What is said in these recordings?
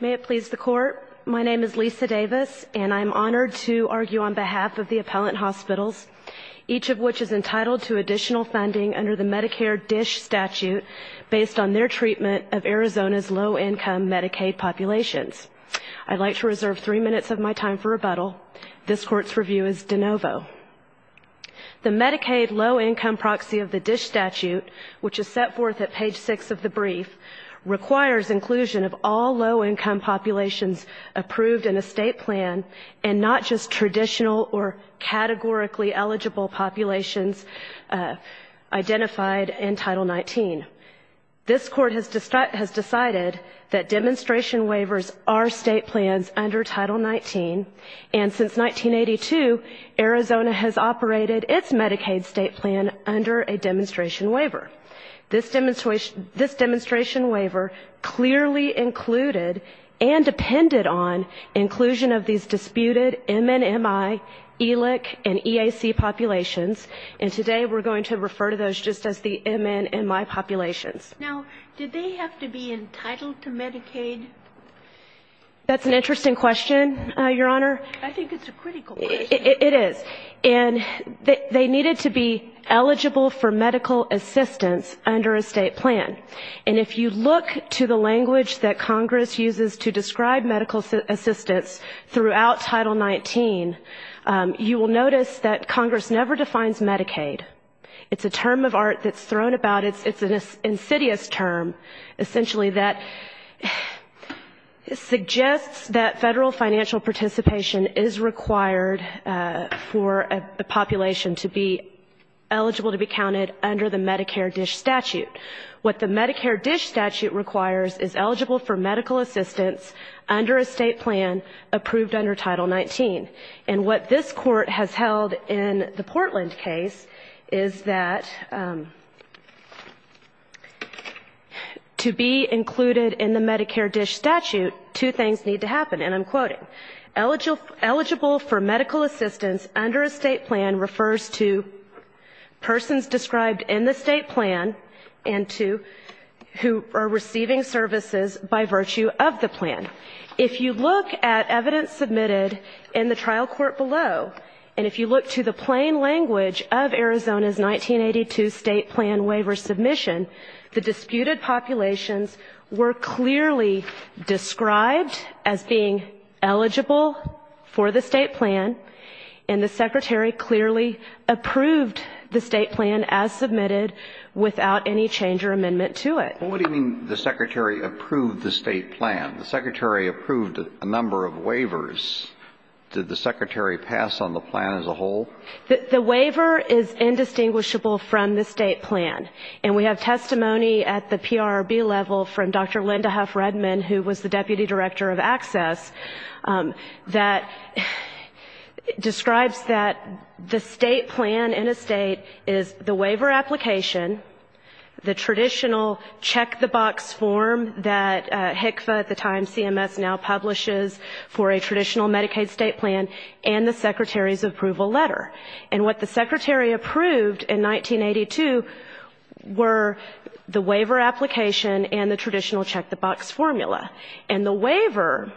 May it please the Court, my name is Lisa Davis and I'm honored to argue on behalf of the Appellant Hospitals, each of which is entitled to additional funding under the Medicare DISH statute based on their treatment of Arizona's low-income Medicaid populations. I'd like to reserve three minutes of my time for rebuttal. This Court's review is de novo. The Medicaid low-income proxy of the DISH statute, which is set forth at page 6 of the brief, requires inclusion of all low-income populations approved in a state plan and not just traditional or categorically eligible populations identified in Title 19. This Court has decided that demonstration waivers are state plans under Title 19, and since 1982, Arizona has operated its Medicaid state plan under a demonstration waiver. This demonstration waiver clearly included and depended on inclusion of these disputed MNMI, ELIC, and EAC populations, and today we're going to refer to those just as the MNMI populations. Now, did they have to be entitled to Medicaid? That's an interesting question, Your Honor. I think it's a critical question. It is. And they needed to be eligible for medical assistance under a state plan. And if you look to the language that Congress uses to describe medical assistance throughout Title 19, you will notice that Congress never defines Medicaid. It's a term of art that's thrown about. It's an insidious term, essentially, that suggests that Federal financial participation is required for a population to be eligible to be counted under the Medicare DISH statute. What the Medicare DISH statute requires is eligible for medical assistance under a state plan approved under Title 19. And what this Court has held in the Portland case is that to be included in the Medicare DISH statute, two things need to happen, and I'm quoting. Eligible for medical assistance under a state plan refers to persons described in the state plan and to who are receiving services by virtue of the plan. If you look at evidence submitted in the trial court below, and if you look to the plain language of Arizona's 1982 state plan waiver submission, the disputed populations were clearly described as being eligible for the state plan, and the Secretary clearly approved the state plan as submitted without any change or amendment to it. What do you mean the Secretary approved the state plan? The Secretary approved a number of waivers. Did the Secretary pass on the plan as a whole? The waiver is indistinguishable from the state plan. And we have testimony at the PRRB level from Dr. Linda Huff-Redmond, who was the Deputy Director of Access, that describes that the state plan in a state is the waiver application, the traditional check-the-box form that HCFA at the time, CMS now publishes for a traditional Medicaid state plan, and the Secretary's approval letter. And what the Secretary approved in 1982 were the waiver application and the traditional check-the-box formula. And the waiver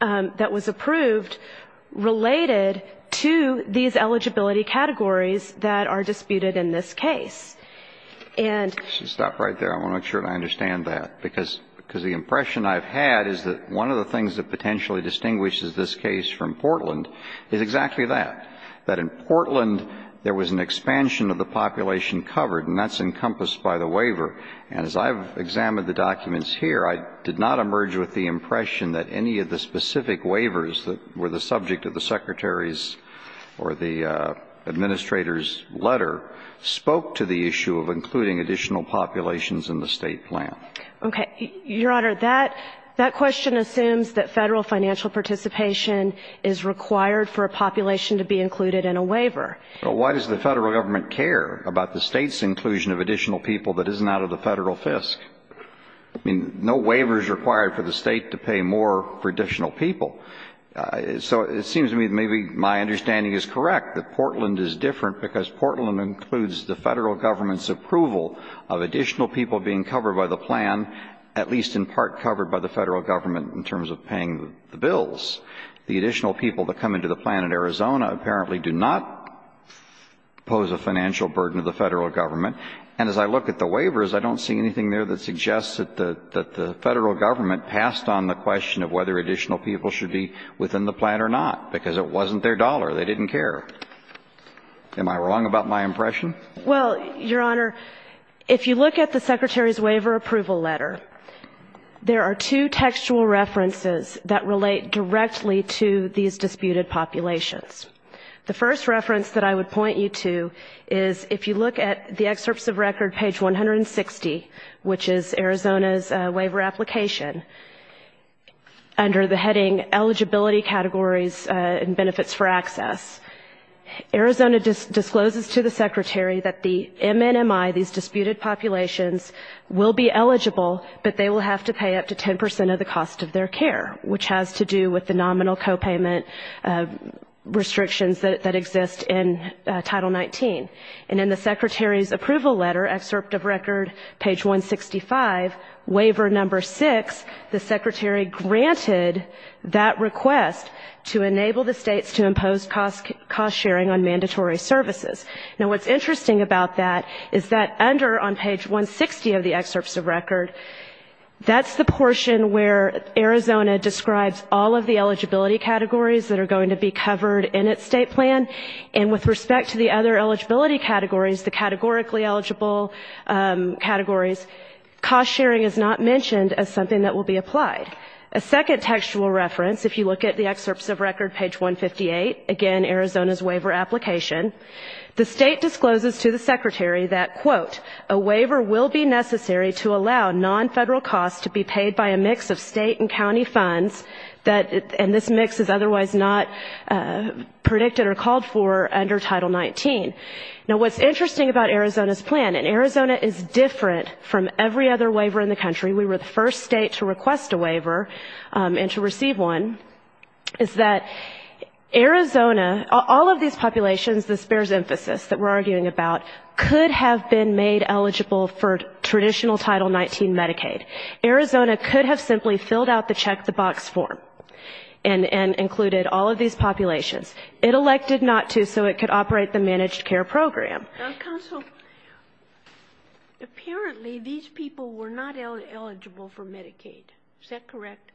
that was approved related to these eligibility categories that are disputed in this case. And as I've examined the documents here, I did not emerge with the impression that any of the specific waivers that were the subject of the Secretary's or the Administrator's letter spoke to the issue of including additional populations in the state plan. Okay. Your Honor, that question assumes that federal financial participation is required for a population to be included in a waiver. Well, why does the federal government care about the state's inclusion of additional people that isn't out of the federal fisc? I mean, no waiver is required for the state to pay more for additional people. So it seems to me that maybe my understanding is correct, that Portland is different because Portland includes the federal government's approval of additional people being covered by the plan, at least in part covered by the federal government in terms of paying the bills. The additional people that come into the plan in Arizona apparently do not pose a financial burden to the federal government. And as I look at the waivers, I don't see anything there that suggests that the federal government passed on the question of whether additional people should be within the plan or not, because it wasn't their dollar. They didn't care. Am I wrong about my impression? Well, Your Honor, if you look at the Secretary's waiver approval letter, there are two textual references that relate directly to these disputed populations. The first reference that I would point you to is if you look at the excerpts of record, page 160, which is Arizona's waiver application, under the heading eligibility categories and benefits for access, Arizona discloses to the Secretary that the MNMI, these disputed populations, will be eligible, but they will have to pay up to 10 percent of the cost of their care, which has to do with the nominal copayment requirements. And in the Secretary's approval letter, excerpt of record, page 165, waiver number six, the Secretary granted that request to enable the states to impose cost sharing on mandatory services. Now, what's interesting about that is that under, on page 160 of the excerpts of record, that's the portion where Arizona describes all of the eligibility categories that are going to be covered in its state plan, and with respect to the other eligibility categories, the categorically eligible categories, cost sharing is not mentioned as something that will be applied. A second textual reference, if you look at the excerpts of record, page 158, again, Arizona's waiver application, the state discloses to the Secretary that, quote, a waiver will be necessary to allow non-federal costs to be paid by a mix of state and county funds, and this mix is otherwise not predicted or called for under Title 19. Now, what's interesting about Arizona's plan, and Arizona is different from every other waiver in the country, we were the first state to request a waiver and to receive one, is that Arizona, all of these populations, this bears emphasis that we're arguing about, could have been made eligible for traditional Title 19 Medicaid. Arizona could have simply filled out the check-the-box form and included all of these populations. It elected not to, so it could operate the managed care program. Now, counsel, apparently these people were not eligible for Medicaid. Is that correct?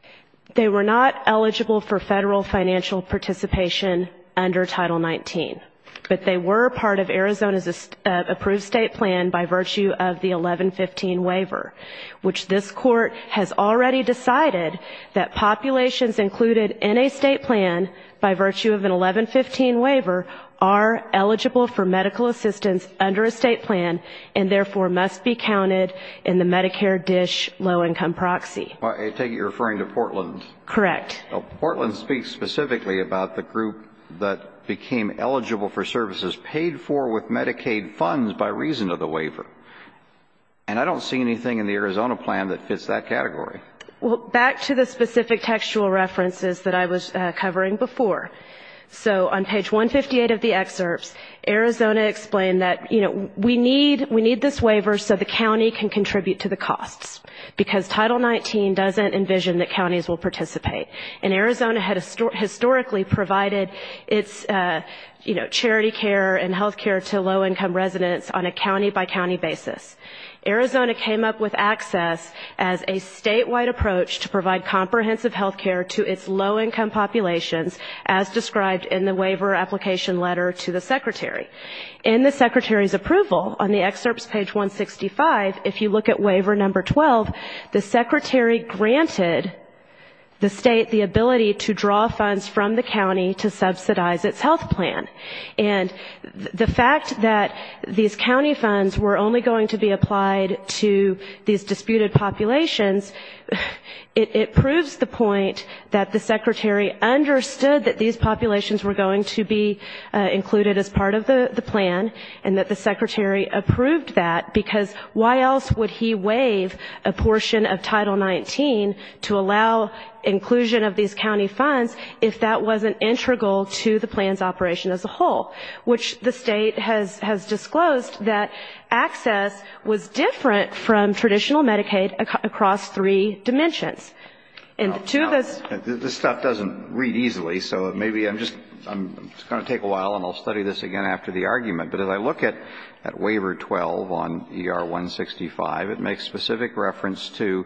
They were not eligible for federal financial participation under Title 19, but they were part of Arizona's approved state plan by virtue of the 1115 waiver, which this court has already decided that populations included in a state plan by virtue of an 1115 waiver are eligible for medical assistance under Title 19. And therefore must be counted in the Medicare DISH low-income proxy. I take it you're referring to Portland. Correct. Portland speaks specifically about the group that became eligible for services paid for with Medicaid funds by reason of the waiver. And I don't see anything in the Arizona plan that fits that category. Well, back to the specific textual references that I was covering before. So on page 158 of the excerpts, Arizona explained that, you know, we need this waiver so the county can contribute to the costs, because Title 19 doesn't envision that counties will participate. And Arizona had historically provided its, you know, charity care and health care to low-income residents on a county-by-county basis. Arizona came up with ACCESS as a statewide approach to provide comprehensive health care to its low-income populations, as described in the waiver application letter to the secretary. In the secretary's approval, on the excerpts page 165, if you look at waiver number 12, the secretary granted the state the ability to draw funds from the county to subsidize its health plan. And the fact that these county funds were only going to be applied to these disputed populations, it proves the point that the secretary understood that these populations were going to be included as part of the plan, and that the secretary approved that, because why else would he waive a portion of Title 19 to allow inclusion of these populations as a whole, which the state has disclosed that ACCESS was different from traditional Medicaid across three dimensions. And to this ---- This stuff doesn't read easily, so maybe I'm just going to take a while, and I'll study this again after the argument. But as I look at waiver 12 on ER-165, it makes specific reference to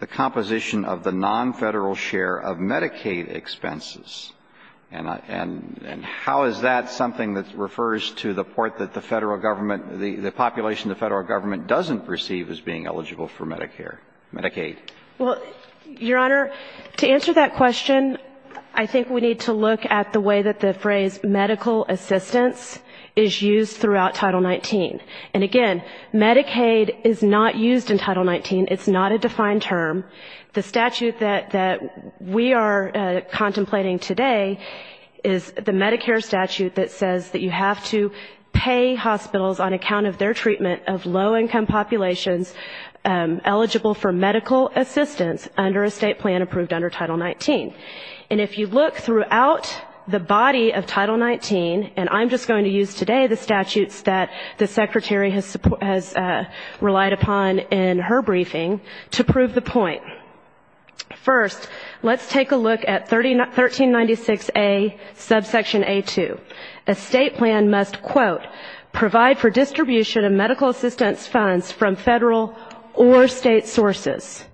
the composition of the non-Federal share of Medicaid expenses. And how is that going to play out? Is that something that refers to the part that the Federal Government, the population the Federal Government doesn't perceive as being eligible for Medicare, Medicaid? Well, Your Honor, to answer that question, I think we need to look at the way that the phrase medical assistance is used throughout Title 19. And again, Medicaid is not used in Title 19. It's not a defined term. The statute that we are contemplating today is the Medicare statute that says that you have to pay hospitals on account of their treatment of low-income populations eligible for medical assistance under a state plan approved under Title 19. And if you look throughout the body of Title 19, and I'm just going to use today the statutes that the Secretary has relied upon in her briefing, to prove the point. First, let's take a look at 1396A, subsection A-2. The statutes that the Secretary has relied upon in her briefing, to prove the point. A state plan must, quote, provide for distribution of medical assistance funds from Federal or State sources.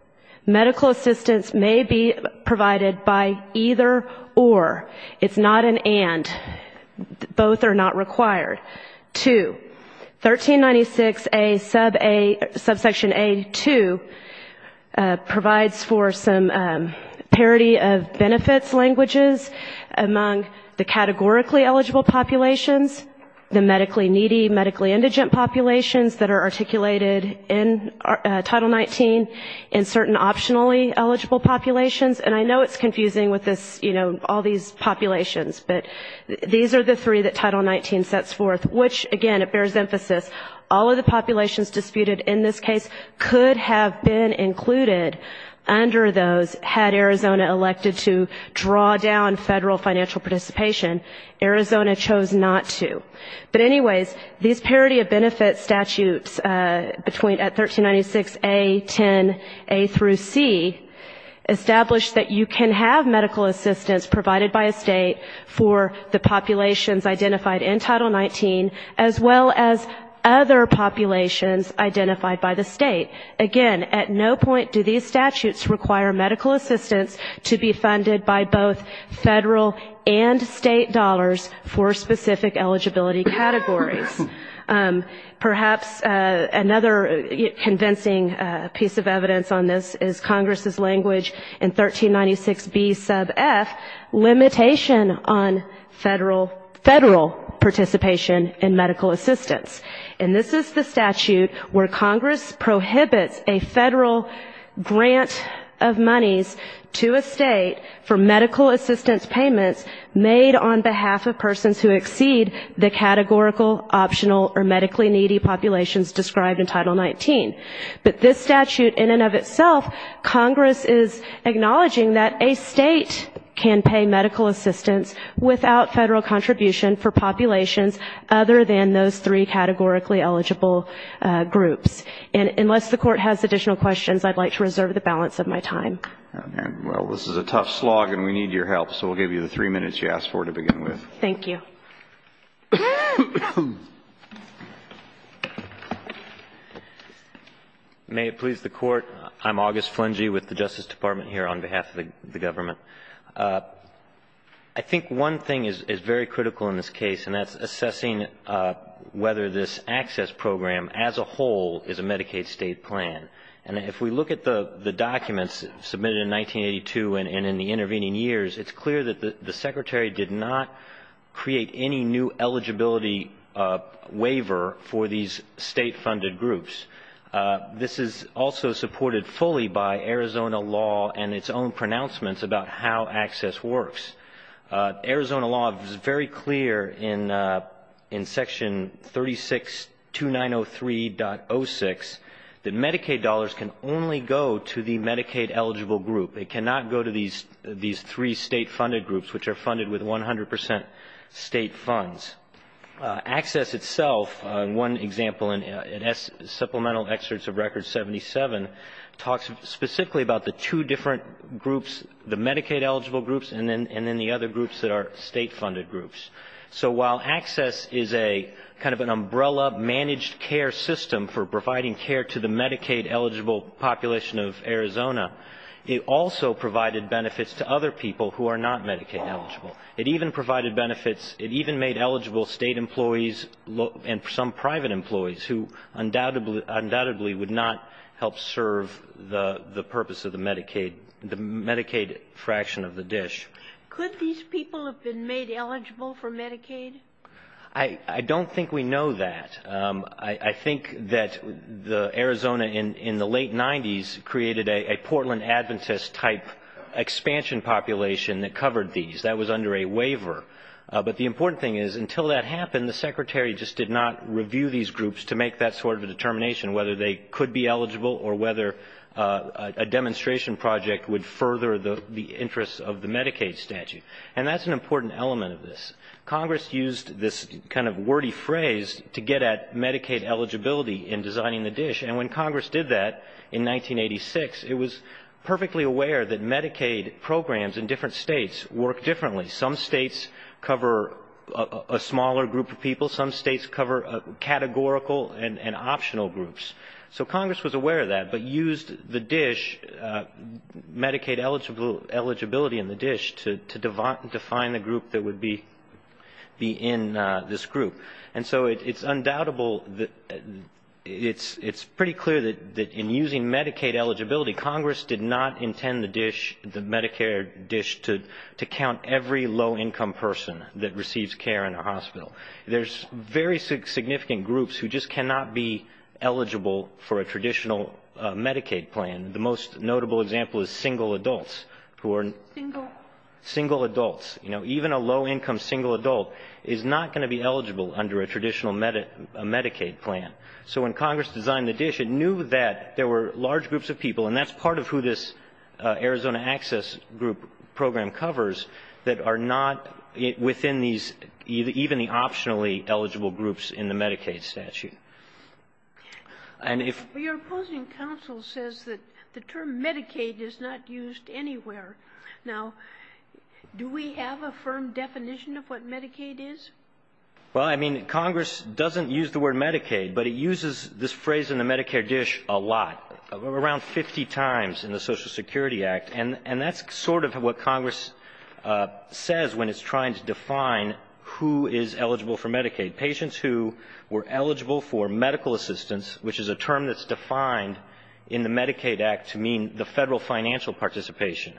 Medical assistance may be provided by either or. It's not an and. Both are not required. Two, 1396A, subsection A-2 provides for some parity of benefits languages among the categorically eligible populations. The medically needy, medically indigent populations that are articulated in Title 19, and certain optionally eligible populations. And I know it's confusing with this, you know, all these populations, but these are the three that Title 19 sets forth, which, again, it bears emphasis, all of the populations disputed in this case could have been included under those had Arizona elected to draw down Federal financial participation. Arizona chose not to. But anyways, these parity of benefits statutes between, at 1396A, 10A-C, establish that you can have medical assistance provided by a state for the populations identified in Title 19, as well as other populations identified by the state. Again, at no point do these statutes require medical assistance to be funded by both Federal or State sources. They require Federal and State dollars for specific eligibility categories. Perhaps another convincing piece of evidence on this is Congress' language in 1396B, sub F, limitation on Federal participation in medical assistance. And this is the statute where Congress prohibits a Federal grant of monies to a state for medical assistance payments made on behalf of persons who exceed the categorical optional or medically needy populations described in Title 19. But this statute in and of itself, Congress is acknowledging that a state can pay medical assistance without Federal contribution for populations other than those three categorically eligible groups. And unless the Court has additional questions, I'd like to reserve the balance of my time. And, well, this is a tough slog, and we need your help, so we'll give you the three minutes you asked for to begin with. Thank you. May it please the Court. I'm August Flangey with the Justice Department here on behalf of the government. I think one thing is very critical in this case, and that's assessing whether this access program as a whole is a Medicaid state plan. And if we look at the documents submitted in 1982 and in the intervening years, it's clear that the Secretary did not create any new eligibility waiver for these state-funded groups. This is also supported fully by Arizona law and its own pronouncements about how access works. Arizona law is very clear in Section 362903.06 that Medicaid dollars can only go to the Medicaid-eligible group. It cannot go to these three state-funded groups, which are funded with 100% state funds. Access itself, one example in supplemental excerpts of Record 77, talks specifically about the two different groups, the Medicaid-eligible groups, and then the other groups that are state-funded groups. So while access is a kind of an umbrella managed care system for providing care to the Medicaid-eligible population of Arizona, it also provided benefits to other people who are not Medicaid-eligible. It even provided benefits, it even made eligible state employees and some private employees who undoubtedly would not help serve the purpose of the Medicaid fraction of the dish. Could these people have been made eligible for Medicaid? I don't think we know that. I think that Arizona in the late 90s created a Portland Adventist-type expansion population that covered these. That was under a waiver. But the important thing is, until that happened, the Secretary just did not review these groups to make that sort of a determination, whether they could be eligible or whether a demonstration project would further the interests of the Medicaid statute. And that's an important element of this. Congress used this kind of wordy phrase to get at Medicaid eligibility in designing the dish, and when Congress did that in 1986, it was perfectly aware that Medicaid programs in different states work differently. Some states cover a smaller group of people, some states cover categorical and optional groups. So Congress was aware of that, but used the dish, Medicaid eligibility in the dish, to define the group that would be in this group. And so it's undoubtable that it's pretty clear that in using Medicaid eligibility, Congress did not intend the dish, the Medicare dish, to count every low-income person that receives care in a hospital. There's very significant groups who just cannot be eligible for a traditional Medicaid plan. The most notable example is single adults who are not eligible for Medicaid. Single adults, you know, even a low-income single adult is not going to be eligible under a traditional Medicaid plan. So when Congress designed the dish, it knew that there were large groups of people, and that's part of who this Arizona Access group program covers, that are not within these, even the optionally eligible groups in the Medicaid statute. And if you're opposing counsel says that the term Medicaid is not used anywhere. Now, if you're opposing counsel says that the term Medicaid is not used anywhere, do we have a firm definition of what Medicaid is? Well, I mean, Congress doesn't use the word Medicaid, but it uses this phrase in the Medicare dish a lot, around 50 times in the Social Security Act, and that's sort of what Congress says when it's trying to define who is eligible for Medicaid. Patients who were eligible for medical assistance, which is a term that's defined in the Medicaid Act to mean the federal financial participation,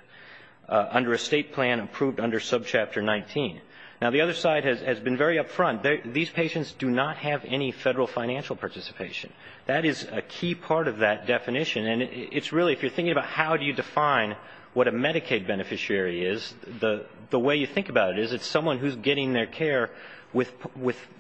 under a state plan approved under Subchapter 19. Now, the other side has been very upfront. These patients do not have any federal financial participation. That is a key part of that definition, and it's really, if you're thinking about how do you define what a Medicaid beneficiary is, the way you think about it is it's someone who's getting their care with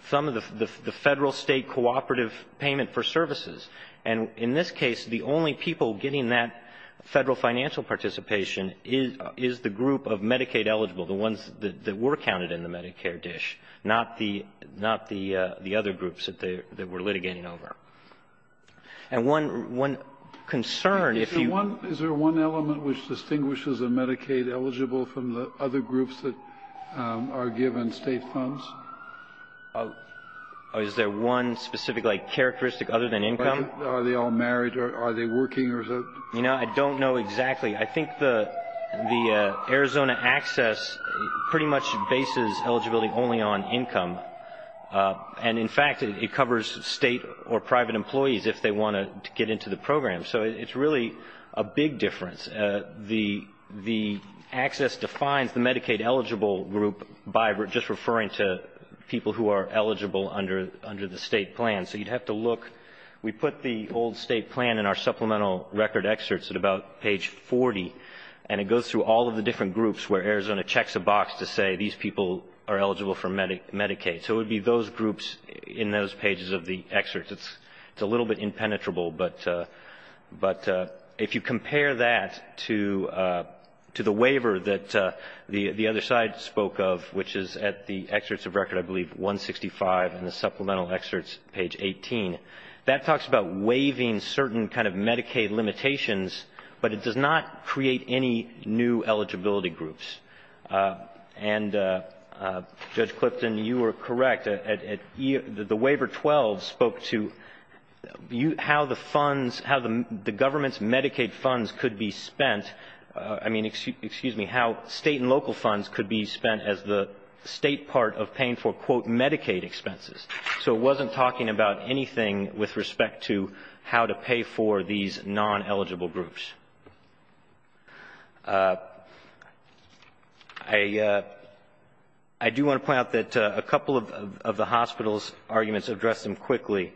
some of the federal-state cooperative payment for services. And in this case, the only people getting that federal financial participation is the group of Medicaid-eligible, the ones that were counted in the Medicare dish, not the other groups that they were litigating over. And one concern, if you ---- Is there one element which distinguishes a Medicaid-eligible from the other groups that are given state funds? Is there one specific, like, characteristic other than income? Are they all married? Are they working? You know, I don't know exactly. I think the Arizona Access pretty much bases eligibility only on income. And, in fact, it covers state or private employees if they want to get into the program. So it's really a big difference. The Access defines the Medicaid-eligible group by just referring to the Medicaid-eligible group. It's the people who are eligible under the state plan. So you'd have to look. We put the old state plan in our supplemental record excerpts at about page 40, and it goes through all of the different groups where Arizona checks a box to say these people are eligible for Medicaid. So it would be those groups in those pages of the excerpts. It's a little bit impenetrable, but if you compare that to the waiver that the other side spoke of, which is at the Excerpts of Records I believe 165 in the supplemental excerpts, page 18, that talks about waiving certain kind of Medicaid limitations, but it does not create any new eligibility groups. And, Judge Clifton, you were correct. The Waiver 12 spoke to how the funds, how the government's Medicaid funds could be spent, I mean, excuse me, how state and local funds could be spent as the state part of paying for, quote, Medicaid expenses. So it wasn't talking about anything with respect to how to pay for these non-eligible groups. I do want to point out that a couple of the hospital's arguments address them quickly.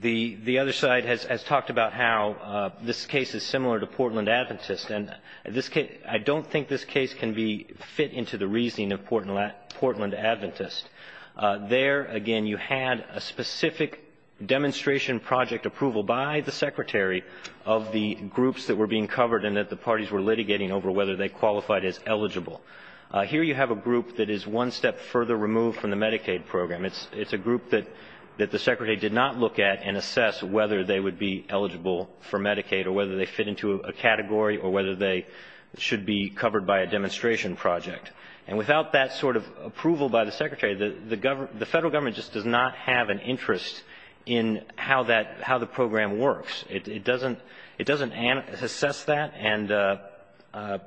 The other side has talked about how this case is fit into the reasoning of Portland Adventist. There, again, you had a specific demonstration project approval by the Secretary of the groups that were being covered and that the parties were litigating over whether they qualified as eligible. Here you have a group that is one step further removed from the Medicaid program. It's a group that the Secretary did not look at and assess whether they would be qualified by a demonstration project. And without that sort of approval by the Secretary, the federal government just does not have an interest in how that, how the program works. It doesn't assess that, and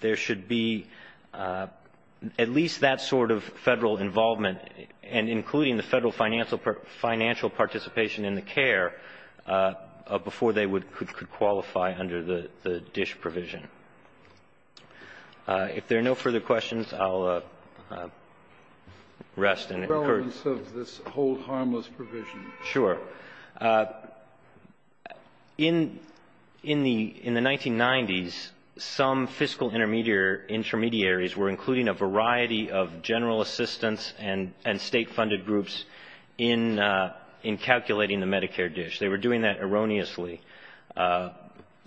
there should be at least that sort of federal involvement, and including the federal financial participation in the care, before they could qualify under the DISH provision. If there are no further questions, I'll rest and concur. The relevance of this whole harmless provision. Sure. In the 1990s, some fiscal intermediaries were including a variety of general assistance and state-funded groups in calculating the Medicare DISH. They were doing that erroneously.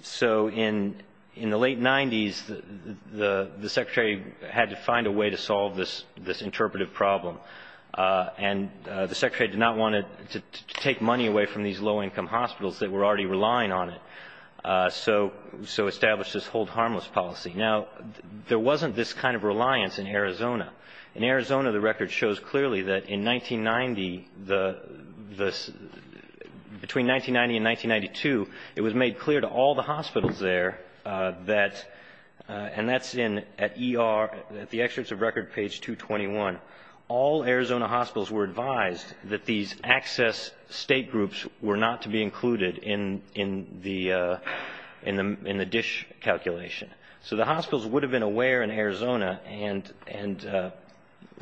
So in the late 90s, the federal government decided that the Medicare DISH program was not going to work. And the Secretary had to find a way to solve this interpretive problem. And the Secretary did not want to take money away from these low-income hospitals that were already relying on it. So established this whole harmless policy. Now, there wasn't this kind of reliance in Arizona. In Arizona, the record shows clearly that in 1990, the, between 1990 and 1992, it was written at ER, at the excerpts of record page 221, all Arizona hospitals were advised that these access state groups were not to be included in the DISH calculation. So the hospitals would have been aware in Arizona, and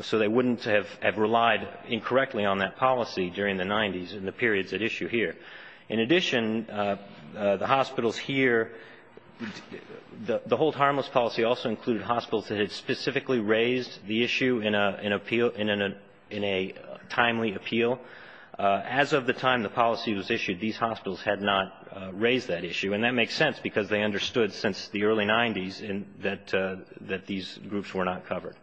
so they wouldn't have relied incorrectly on that policy during the 90s in the periods at issue here. In addition, the hospitals here, the whole harmless policy also included hospitals that had specifically raised the issue in an appeal, in a timely appeal. As of the time the policy was issued, these hospitals had not raised that issue. And that makes sense, because they understood since the early 90s that these groups were not covered.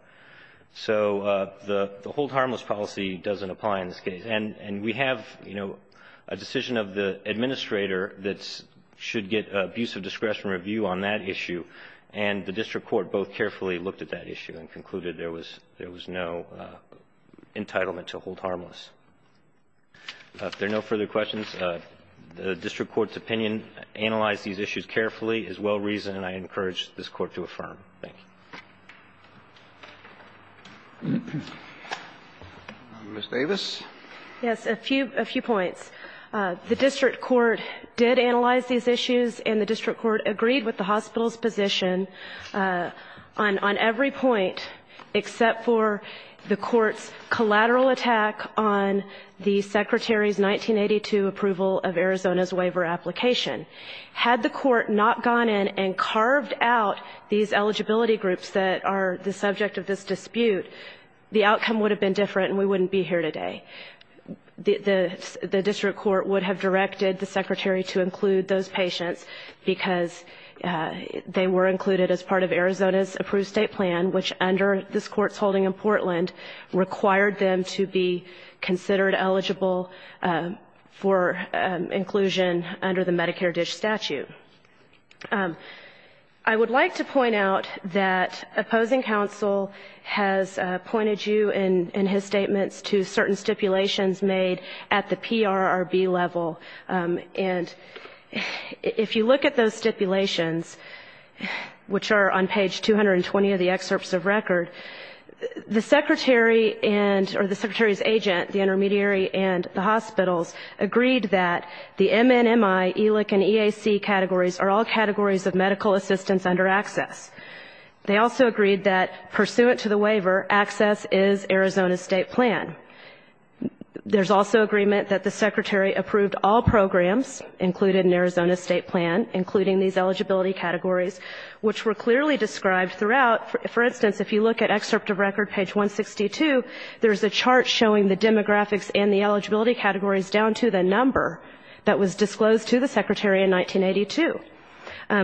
So the whole harmless policy doesn't apply in this case. And we have, you know, a decision of the administrator that should get abuse of discretion review on that issue, and the district court both carefully looked at that issue and concluded there was no entitlement to hold harmless. If there are no further questions, the district court's opinion, analyze these issues carefully, is well-reasoned, and I encourage this Court to affirm. Ms. Davis? Yes, a few points. The district court did analyze these issues, and the district court agreed with the hospital's position on every point, except for the court's collateral attack on the Secretary's 1982 approval of Arizona's waiver application. Had the court not gone in and covered the issue, and carved out these eligibility groups that are the subject of this dispute, the outcome would have been different, and we wouldn't be here today. The district court would have directed the Secretary to include those patients, because they were included as part of Arizona's approved state plan, which under this Court's holding in Portland, required them to be considered eligible for inclusion under the Medicare DISH statute. I would like to point out that opposing counsel has pointed you in his statements to certain stipulations made at the PRRB level, and if you look at those stipulations, which are on page 220 of the excerpts of record, the Secretary and, or the Secretary's agent, the intermediary, and the hospitals agreed that the MNMI, ELIC, and EAC categories are all categories of medical assistance, and that they are not eligible for medical assistance under ACCESS. They also agreed that, pursuant to the waiver, ACCESS is Arizona's state plan. There's also agreement that the Secretary approved all programs included in Arizona's state plan, including these eligibility categories, which were clearly described throughout. For instance, if you look at excerpt of record, page 162, there's a chart showing the demographics and the eligibility categories down to the number that was disclosed to the Secretary in 1982.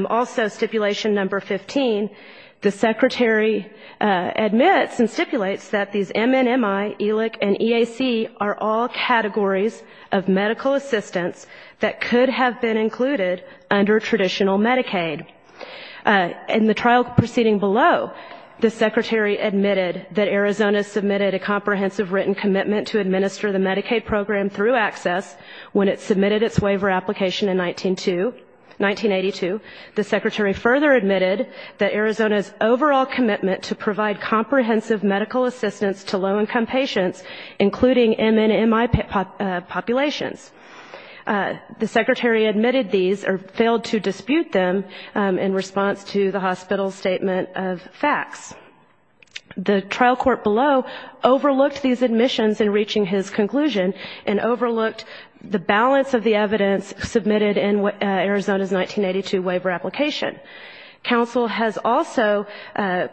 Also, stipulations that the Secretary approved all programs included in Arizona's state plan, and if you look at excerpt of record, page 162, and section number 15, the Secretary admits and stipulates that these MNMI, ELIC, and EAC are all categories of medical assistance that could have been included under traditional Medicaid. In the trial proceeding below, the Secretary admitted that Arizona submitted a comprehensive written commitment to administer the Medicaid program through ACCESS when it submitted its waiver application in 1982. The Secretary further added that Arizona's overall commitment to provide comprehensive medical assistance to low-income patients, including MNMI populations. The Secretary admitted these or failed to dispute them in response to the hospital's statement of facts. The trial court below overlooked these admissions in reaching his conclusion and overlooked the balance of the evidence submitted in Arizona's 1982 waiver application. Council has also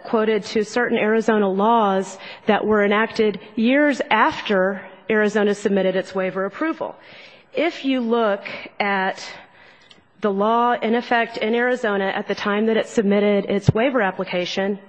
quoted to certain Arizona laws that were enacted years after Arizona submitted its waiver approval. If you look at the law in effect in Arizona at the time that it submitted its waiver application,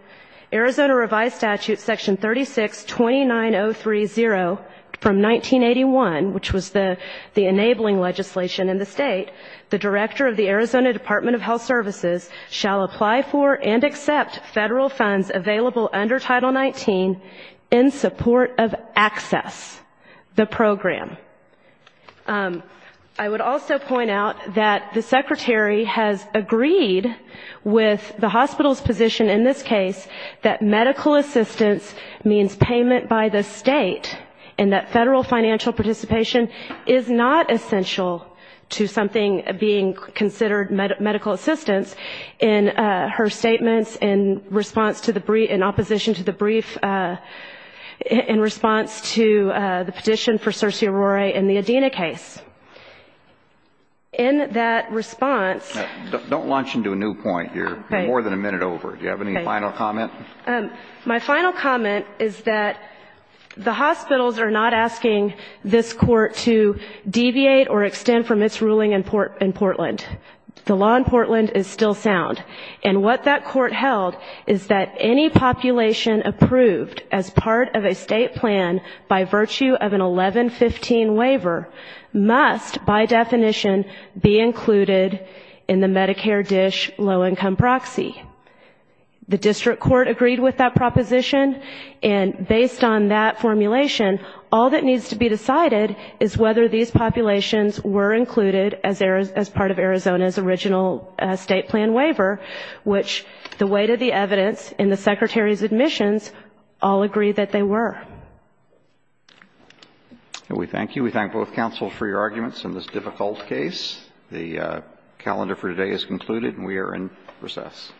Arizona revised statute section 3629030 from 1981, which was the enabling legislation in the state, the director of the Arizona Department of Health Services shall apply for and accept federal funds available under Title XIX in support of ACCESS, the program. I would also point out that the Secretary has agreed with the hospital's position in this case that medical assistance means payment by the state, and that federal financial participation is not essential to something being considered medical assistance in this case. In response to the petition for Circe Aurore in the Adena case, in that response... Don't launch into a new point here. You have more than a minute over. Do you have any final comment? My final comment is that the hospitals are not asking this court to deviate or extend from its ruling in Portland. The law in Portland is still sound. And what that court held is that any population approved as part of a state plan by virtue of an 1115 waiver must, by definition, be included in the Medicare DISH low-income proxy. The district court agreed with that proposition, and based on that formulation, all that needs to be decided is whether these populations were included as part of Arizona's original state plan waiver, which the weight of the evidence in the Secretary's admissions all agree that they were. We thank you. We thank both counsels for your arguments in this difficult case. The calendar for today is concluded, and we are in recess.